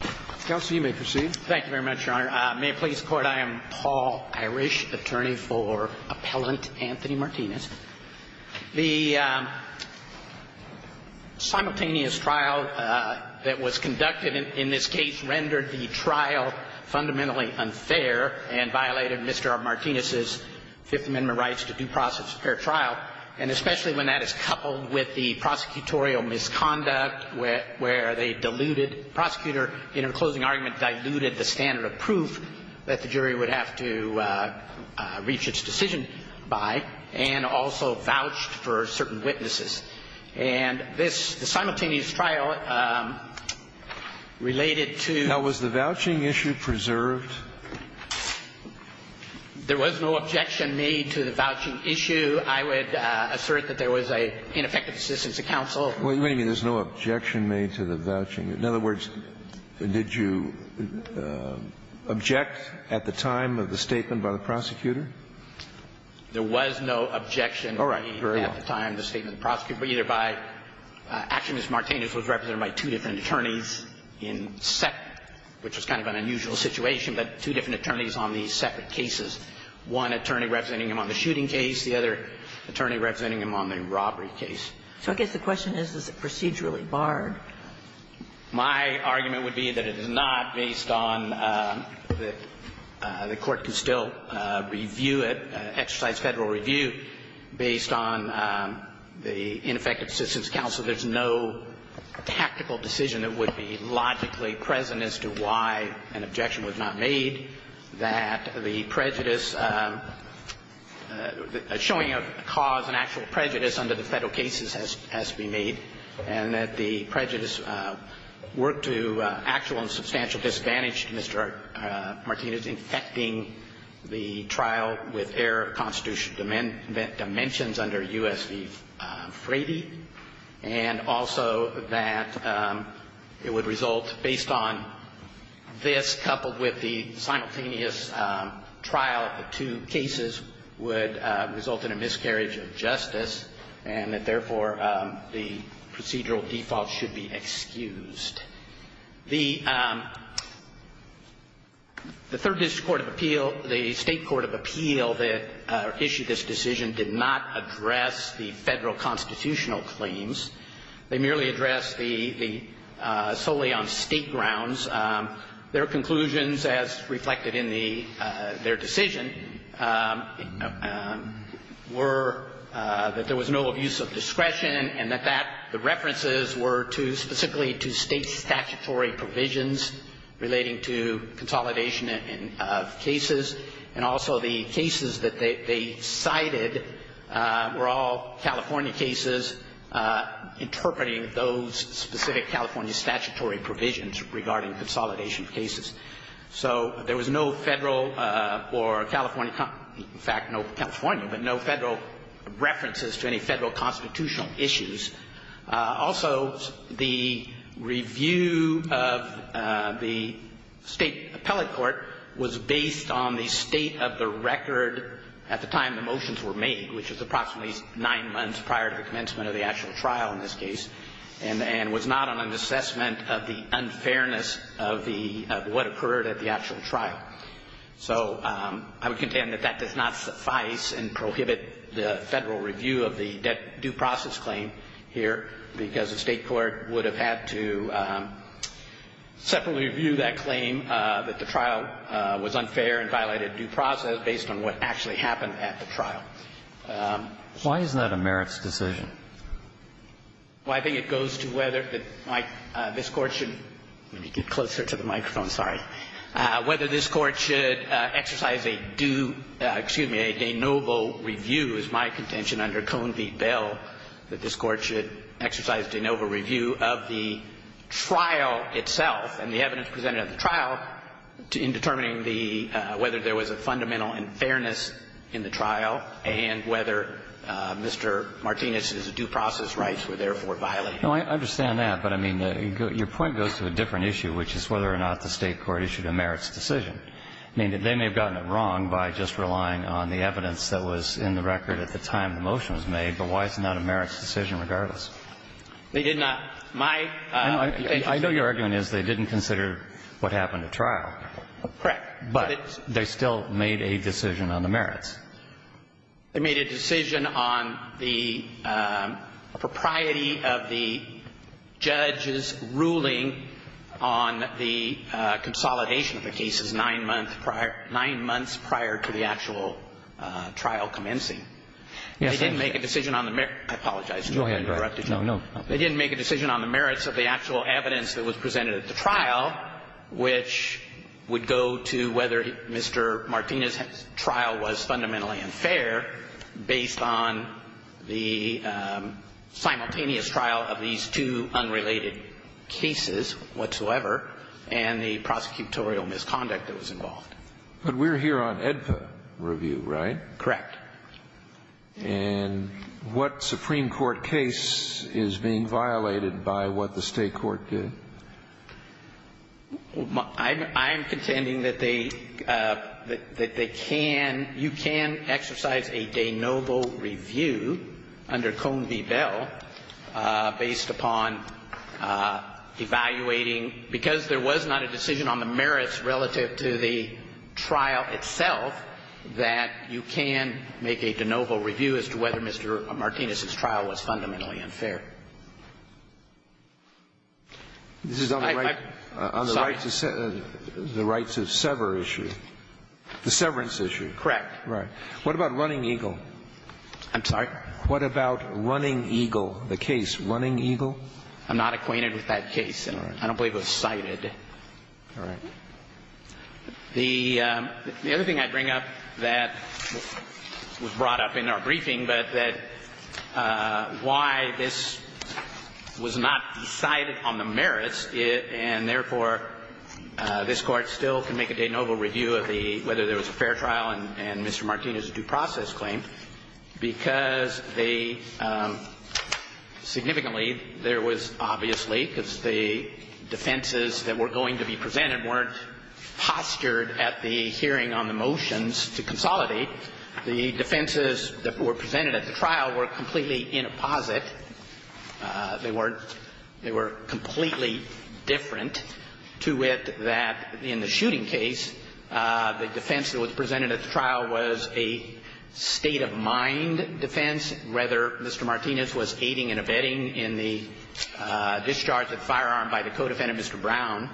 Thank you very much, Your Honor. May it please the Court, I am Paul Irish, attorney for Appellant Anthony Martinez. The simultaneous trial that was conducted in this case rendered the trial fundamentally unfair and violated Mr. Martinez's Fifth Amendment rights to due process a fair trial, and especially when that is coupled with the prosecutorial misconduct where they diluted, the prosecutor, in her closing argument, diluted the standard of proof that the jury would have to reach its decision by, and also vouched for certain witnesses. And this, the simultaneous trial, related to – How was the vouching issue preserved? There was no objection made to the vouching issue. I would assert that there was an ineffective assistance to counsel. Wait a minute. There's no objection made to the vouching. In other words, did you object at the time of the statement by the prosecutor? There was no objection made at the time of the statement by the prosecutor. All right. Very well. Mr. Martinez was represented by two different attorneys in separate – which was kind of an unusual situation, but two different attorneys on these separate cases. One attorney representing him on the shooting case, the other attorney representing him on the robbery case. So I guess the question is, is it procedurally barred? My argument would be that it is not, based on the court can still review it, exercise federal review, based on the ineffective assistance to counsel, there's no tactical decision that would be logically present as to why an objection was not made, that the prejudice – showing a cause, an actual prejudice under the Federal cases has to be made, and that the prejudice worked to actual and substantial disadvantage to Mr. Martinez infecting the trial with error of constitutional dimensions under U.S. v. Frady, and also that it would result, based on this coupled with the simultaneous trial of the two cases, would result in a miscarriage of justice, and that, therefore, the procedural default should be excused. The Third District Court of Appeal, the State court of appeal that issued this decision did not address the Federal constitutional claims. They merely addressed the solely on State grounds. Their conclusions, as reflected in the – their decision, were that there was no abuse of discretion and that that – the references were to – specifically to State statute statutory provisions relating to consolidation of cases, and also the cases that they cited were all California cases, interpreting those specific California statutory provisions regarding consolidation of cases. So there was no Federal or California – in fact, no California, but no Federal references to any Federal constitutional issues. Also, the review of the State appellate court was based on the state of the record at the time the motions were made, which was approximately nine months prior to the commencement of the actual trial in this case, and was not on an assessment of the unfairness of the – of the Federal review of the due process claim here, because the State court would have had to separately review that claim, that the trial was unfair and violated due process based on what actually happened at the trial. Why is that a merits decision? Well, I think it goes to whether that this Court should – let me get closer to the motion under Cone v. Bell that this Court should exercise de novo review of the trial itself and the evidence presented at the trial in determining the – whether there was a fundamental unfairness in the trial and whether Mr. Martinez's due process rights were therefore violated. No, I understand that, but I mean, your point goes to a different issue, which is whether or not the State court issued a merits decision. I mean, they may have gotten it wrong by just relying on the evidence that was in the record at the time the motion was made, but why is it not a merits decision regardless? They did not. My – I know your argument is they didn't consider what happened at trial. Correct. But they still made a decision on the merits. They made a decision on the propriety of the judge's ruling on the consolidation of the cases nine months prior – nine months prior to the actual trial commencing. They didn't make a decision on the – I apologize. Go ahead. No, no. They didn't make a decision on the merits of the actual evidence that was presented at the trial, which would go to whether Mr. Martinez's trial was fundamentally unfair based on the simultaneous trial of these two unrelated cases whatsoever and the prosecutorial misconduct that was involved. But we're here on AEDPA review, right? Correct. And what Supreme Court case is being violated by what the State court did? I'm contending that they – that they can – you can exercise a de novo review under Cone v. Bell based upon evaluating – because there was not a decision on the merits relative to the trial itself, that you can make a de novo review as to whether Mr. Martinez's trial was fundamentally unfair. This is on the rights of – the rights of sever issue. The severance issue. Correct. Right. What about Running Eagle? I'm sorry? What about Running Eagle, the case, Running Eagle? I'm not acquainted with that case. All right. I don't believe it was cited. All right. The other thing I'd bring up that was brought up in our briefing, but that why this was not decided on the merits, and therefore, this Court still can make a de novo review of the – whether there was a fair trial and Mr. Martinez's due process claim, because the – significantly, there was obviously, because the defenses that were going to be presented weren't postured at the hearing on the motions to consolidate. The defenses that were presented at the trial were completely in apposite. They weren't – they were completely different to it that in the shooting case, the defense that was presented at the trial was a state of mind defense, whether Mr. Martinez was aiding and abetting in the discharge of the firearm by the co-defendant, Mr. Brown.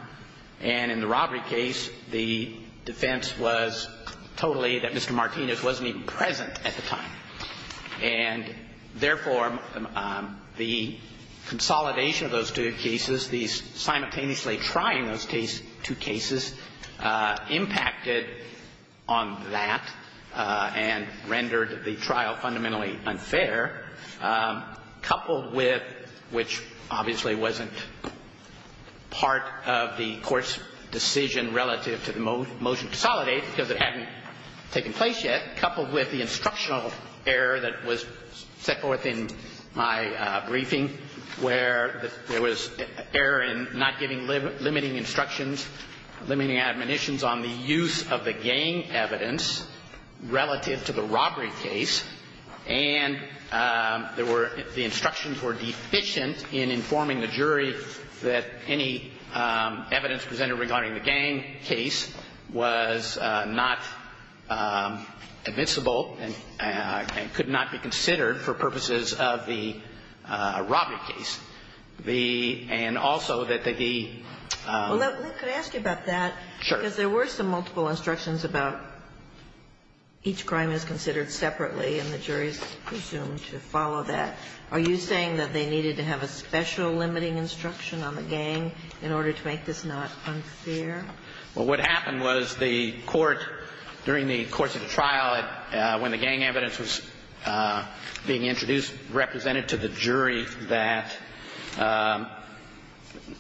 And in the robbery case, the defense was totally that Mr. Martinez wasn't even present at the time. And therefore, the consolidation of those two cases, these simultaneously trying those two cases, impacted on that and rendered the trial fundamentally unfair, coupled with – which obviously wasn't part of the Court's decision relative to the motion to consolidate, because it hadn't taken place yet – coupled with the instructional error that was set forth in my briefing, where there was error in not giving – limiting instructions, limiting admonitions on the use of the And there were – the instructions were deficient in informing the jury that any evidence presented regarding the gang case was not admissible and could not be considered for purposes of the robbery case. The – and also that the – Well, let – could I ask you about that? Sure. Because there were some multiple instructions about each crime is considered separately, and the jury is presumed to follow that. Are you saying that they needed to have a special limiting instruction on the gang in order to make this not unfair? Well, what happened was the Court, during the course of the trial, when the gang evidence was being introduced, represented to the jury that –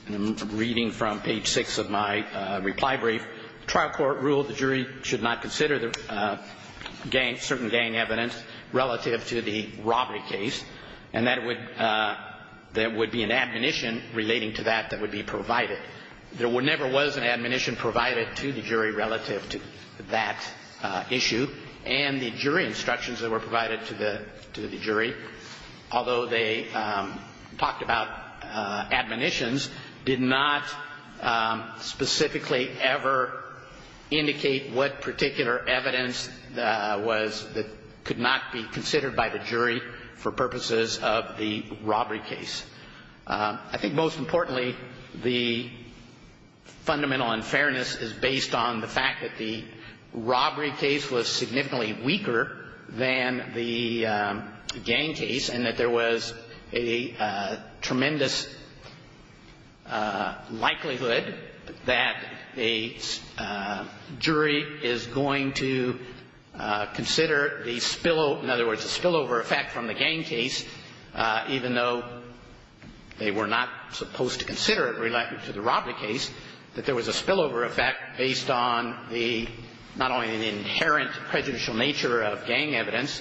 I'm reading from page 6 of my reply brief. The trial court ruled the jury should not consider the gang – certain gang evidence relative to the robbery case, and that it would – there would be an admonition relating to that that would be provided. There never was an admonition provided to the jury relative to that issue, and the jury instructions that were provided to the jury, although they talked about indicate what particular evidence was – that could not be considered by the jury for purposes of the robbery case. I think most importantly, the fundamental unfairness is based on the fact that the robbery case was significantly weaker than the gang case, and that there was a jury is going to consider the spillover – in other words, the spillover effect from the gang case, even though they were not supposed to consider it relative to the robbery case, that there was a spillover effect based on the – not only the inherent prejudicial nature of gang evidence,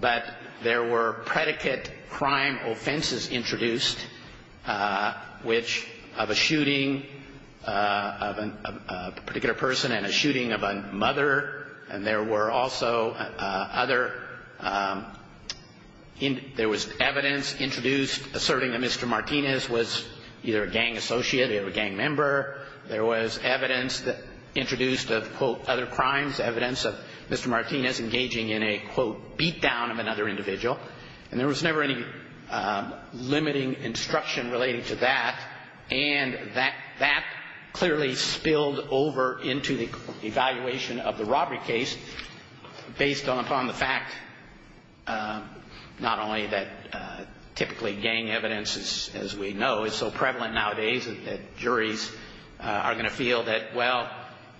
but there were predicate crime offenses introduced, which – of a shooting of a particular person and a shooting of a mother, and there were also other – there was evidence introduced asserting that Mr. Martinez was either a gang associate or a gang member. There was evidence introduced of, quote, other crimes, evidence of Mr. Martinez engaging in a, quote, beatdown of another individual, and there was never any limiting instruction relating to that, and that clearly spilled over into the evaluation of the robbery case based upon the fact not only that typically gang evidence, as we know, is so prevalent nowadays that juries are going to feel that, well,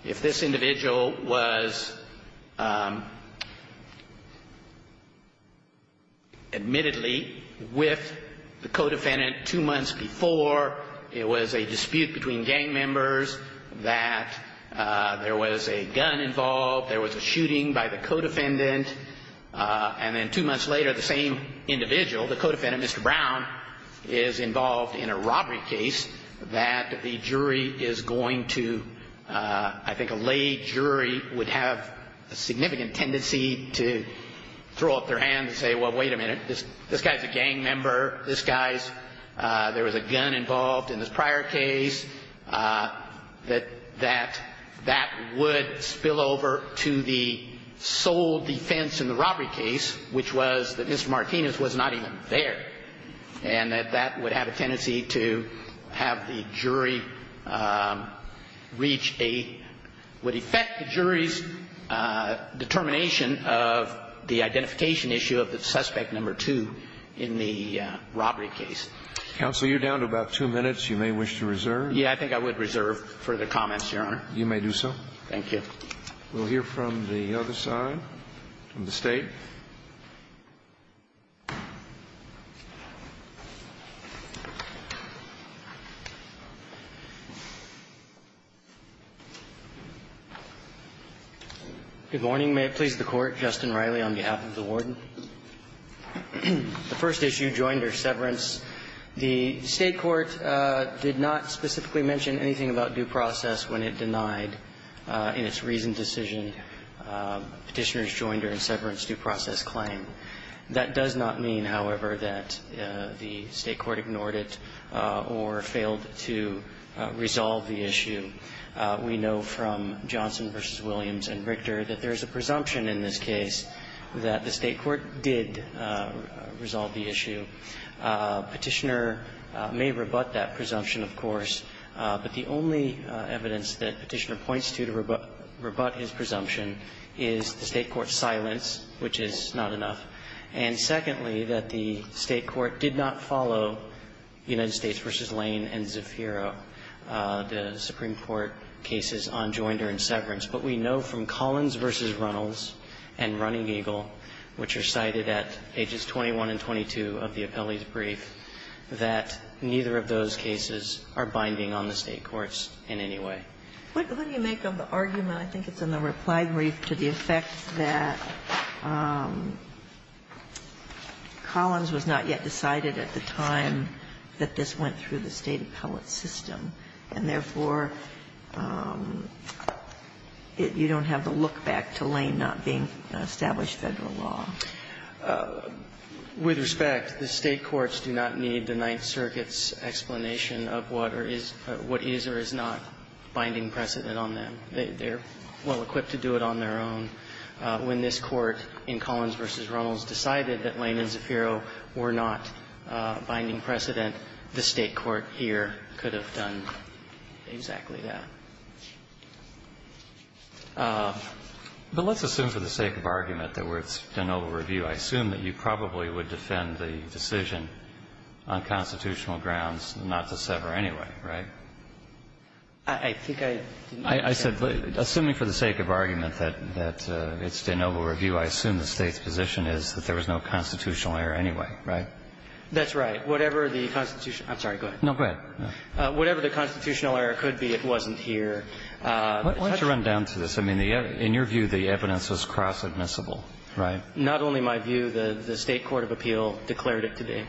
if this individual was admittedly with the co-defendant two months before, it was a dispute between gang members, that there was a gun involved, there was a shooting by the co-defendant, and then two months later, the same individual, the co-defendant, Mr. Brown, is involved in a robbery case, that the jury is going to – I think a lay jury would have a significant tendency to throw up their hand and say, well, wait a minute, this guy's a gang member, this guy's – there was a gun involved in this prior case, that that would spill over to the sole defense in the robbery case, which was that Mr. Martinez was not even there, and that that would have a tendency to have the jury reach a – would affect the jury's determination of the identification issue of the suspect number two in the robbery case. Counsel, you're down to about two minutes. You may wish to reserve. Yeah, I think I would reserve for the comments, Your Honor. You may do so. Thank you. We'll hear from the other side, from the State. Thank you. Good morning. May it please the Court. Justin Riley on behalf of the Warden. The first issue, joinder, severance. The State court did not specifically mention anything about due process when it denied in its reasoned decision Petitioner's joinder and severance due process claim. That does not mean, however, that the State court ignored it or failed to resolve the issue. We know from Johnson v. Williams and Richter that there is a presumption in this case that the State court did resolve the issue. Petitioner may rebut that presumption, of course, but the only evidence that Petitioner points to to rebut his presumption is the State court's silence, which is not enough. And secondly, that the State court did not follow United States v. Lane and Zafiro, the Supreme Court cases on joinder and severance. But we know from Collins v. Runnels and Running Eagle, which are cited at ages 21 and 22 of the appellee's brief, that neither of those cases are binding on the State courts in any way. What do you make of the argument, I think it's in the reply brief, to the effect that Collins was not yet decided at the time that this went through the State appellate system, and therefore, you don't have the look-back to Lane not being established Federal law? With respect, the State courts do not need the Ninth Circuit's explanation of what is or is not binding precedent on them. They're well-equipped to do it on their own. When this Court in Collins v. Runnels decided that Lane and Zafiro were not binding precedent, the State court here could have done exactly that. But let's assume, for the sake of argument, that we're in an over-review. I assume that you probably would defend the decision on constitutional grounds not to sever anyway, right? I think I didn't understand the question. I said, assuming for the sake of argument that it's an over-review, I assume the State's position is that there was no constitutional error anyway, right? That's right. Whatever the constitutional error could be, it wasn't here. Why don't you run down to this? I mean, in your view, the evidence was cross-admissible, right? Not only my view. The State court of appeal declared it to be.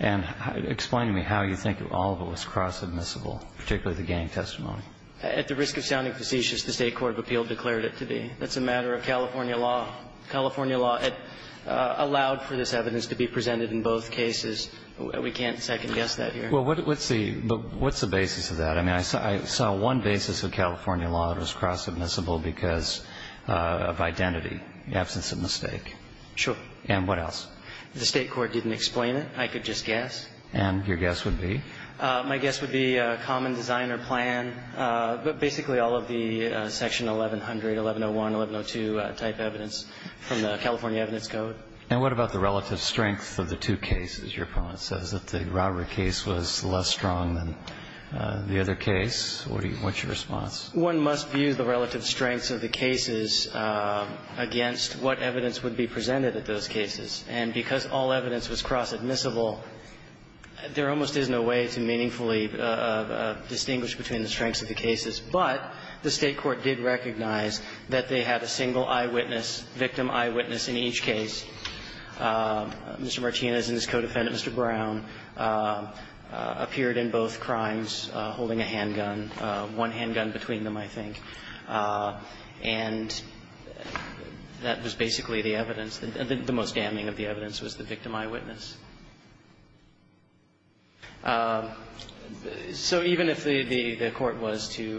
And explain to me how you think all of it was cross-admissible, particularly the gang testimony. At the risk of sounding facetious, the State court of appeal declared it to be. That's a matter of California law. California law allowed for this evidence to be presented in both cases. We can't second-guess that here. Well, what's the basis of that? I mean, I saw one basis of California law that was cross-admissible because of identity, absence of mistake. Sure. And what else? The State court didn't explain it. I could just guess. And your guess would be? My guess would be a common designer plan, but basically all of the section 1100, 1101, 1102 type evidence from the California evidence code. And what about the relative strength of the two cases? Your opponent says that the robbery case was less strong than the other case. What's your response? One must view the relative strengths of the cases against what evidence would be presented at those cases. And because all evidence was cross-admissible, there almost is no way to meaningfully distinguish between the strengths of the cases. But the State court did recognize that they had a single eyewitness, victim eyewitness in each case. Mr. Martinez and his co-defendant, Mr. Brown, appeared in both crimes holding a handgun, one handgun between them, I think. And that was basically the evidence. The most damning of the evidence was the victim eyewitness. So even if the court was to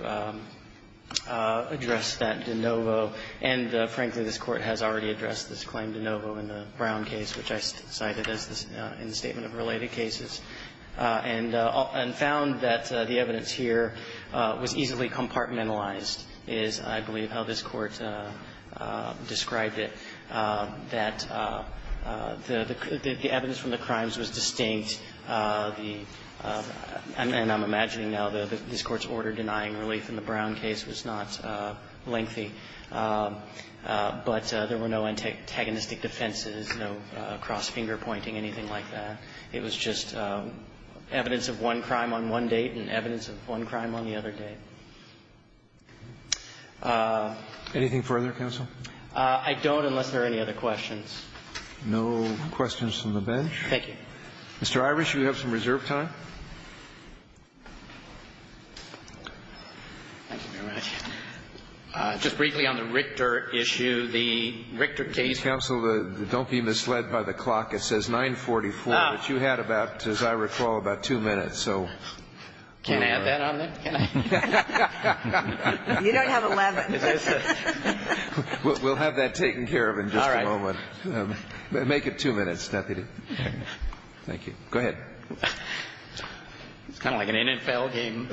address that de novo, and frankly, this Court has already addressed this claim de novo in the Brown case, which I cited as the statement of related cases, and found that the evidence here was easily compartmentalized is, I believe, how this Court described it, that the evidence from the crimes was distinct, and I'm imagining now that this Court's order denying relief in the Brown case was not lengthy, but there were no antagonistic defenses, no cross-finger pointing, anything like that. It was just evidence of one crime on one date and evidence of one crime on the other date. Anything further, Counsel? I don't, unless there are any other questions. No questions from the bench. Thank you. Mr. Irish, you have some reserve time. Thank you very much. Just briefly on the Richter issue, the Richter case. Counsel, don't be misled by the clock. It says 944, but you had about, as I recall, about two minutes, so. Can I add that on there? You don't have 11. We'll have that taken care of in just a moment. Make it two minutes, Deputy. Thank you. Go ahead. It's kind of like an NFL game.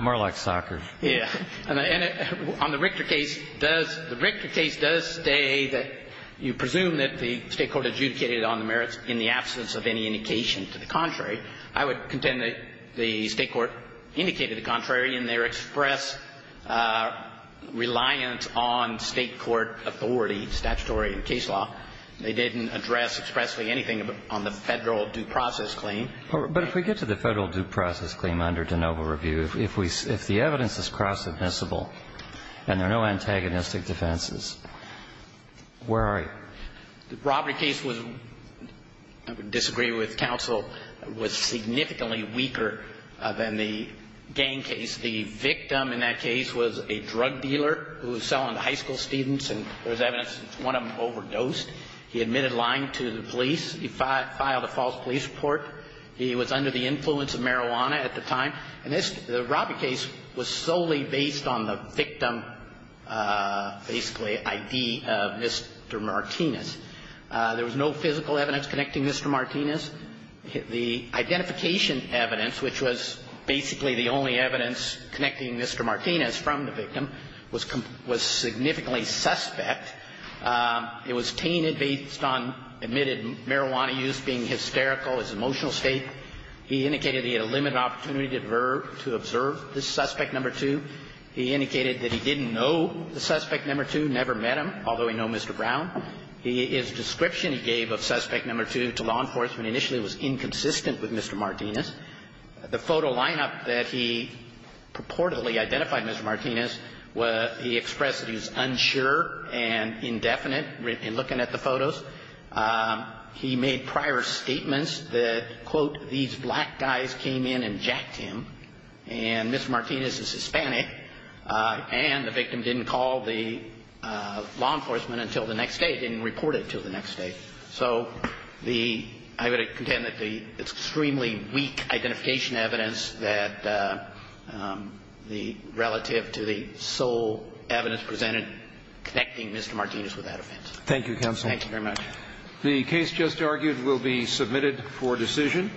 More like soccer. Yeah. On the Richter case, does the Richter case does say that you presume that the State Court adjudicated on the merits in the absence of any indication. To the contrary, I would contend that the State Court indicated the contrary in their express reliance on State court authority, statutory and case law. They didn't address expressly anything on the Federal due process claim. But if we get to the Federal due process claim under de novo review, if we, if the evidence is cross admissible and there are no antagonistic defenses, where are you? The robbery case was, I would disagree with counsel, was significantly weaker than the gang case. The victim in that case was a drug dealer who was selling to high school students and there was evidence that one of them overdosed. He admitted lying to the police. He filed a false police report. He was under the influence of marijuana at the time. And this, the robbery case was solely based on the victim, basically, ID of Mr. Martinez. There was no physical evidence connecting Mr. Martinez. The identification evidence, which was basically the only evidence connecting Mr. Martinez from the victim, was significantly suspect. It was tainted based on admitted marijuana use being hysterical, his emotional state. He indicated he had a limited opportunity to observe this suspect number two. He indicated that he didn't know the suspect number two, never met him, although he knew Mr. Brown. His description he gave of suspect number two to law enforcement initially was inconsistent with Mr. Martinez. The photo lineup that he purportedly identified Mr. Martinez, he expressed that he was unsure and indefinite in looking at the photos. He made prior statements that, quote, these black guys came in and jacked him and Mr. Martinez is Hispanic. And the victim didn't call the law enforcement until the next day, didn't report it until the next day. So the, I would contend that the extremely weak identification evidence that the relative to the sole evidence presented connecting Mr. Martinez with that offense. Thank you, Counsel. Thank you very much. The case just argued will be submitted for decision.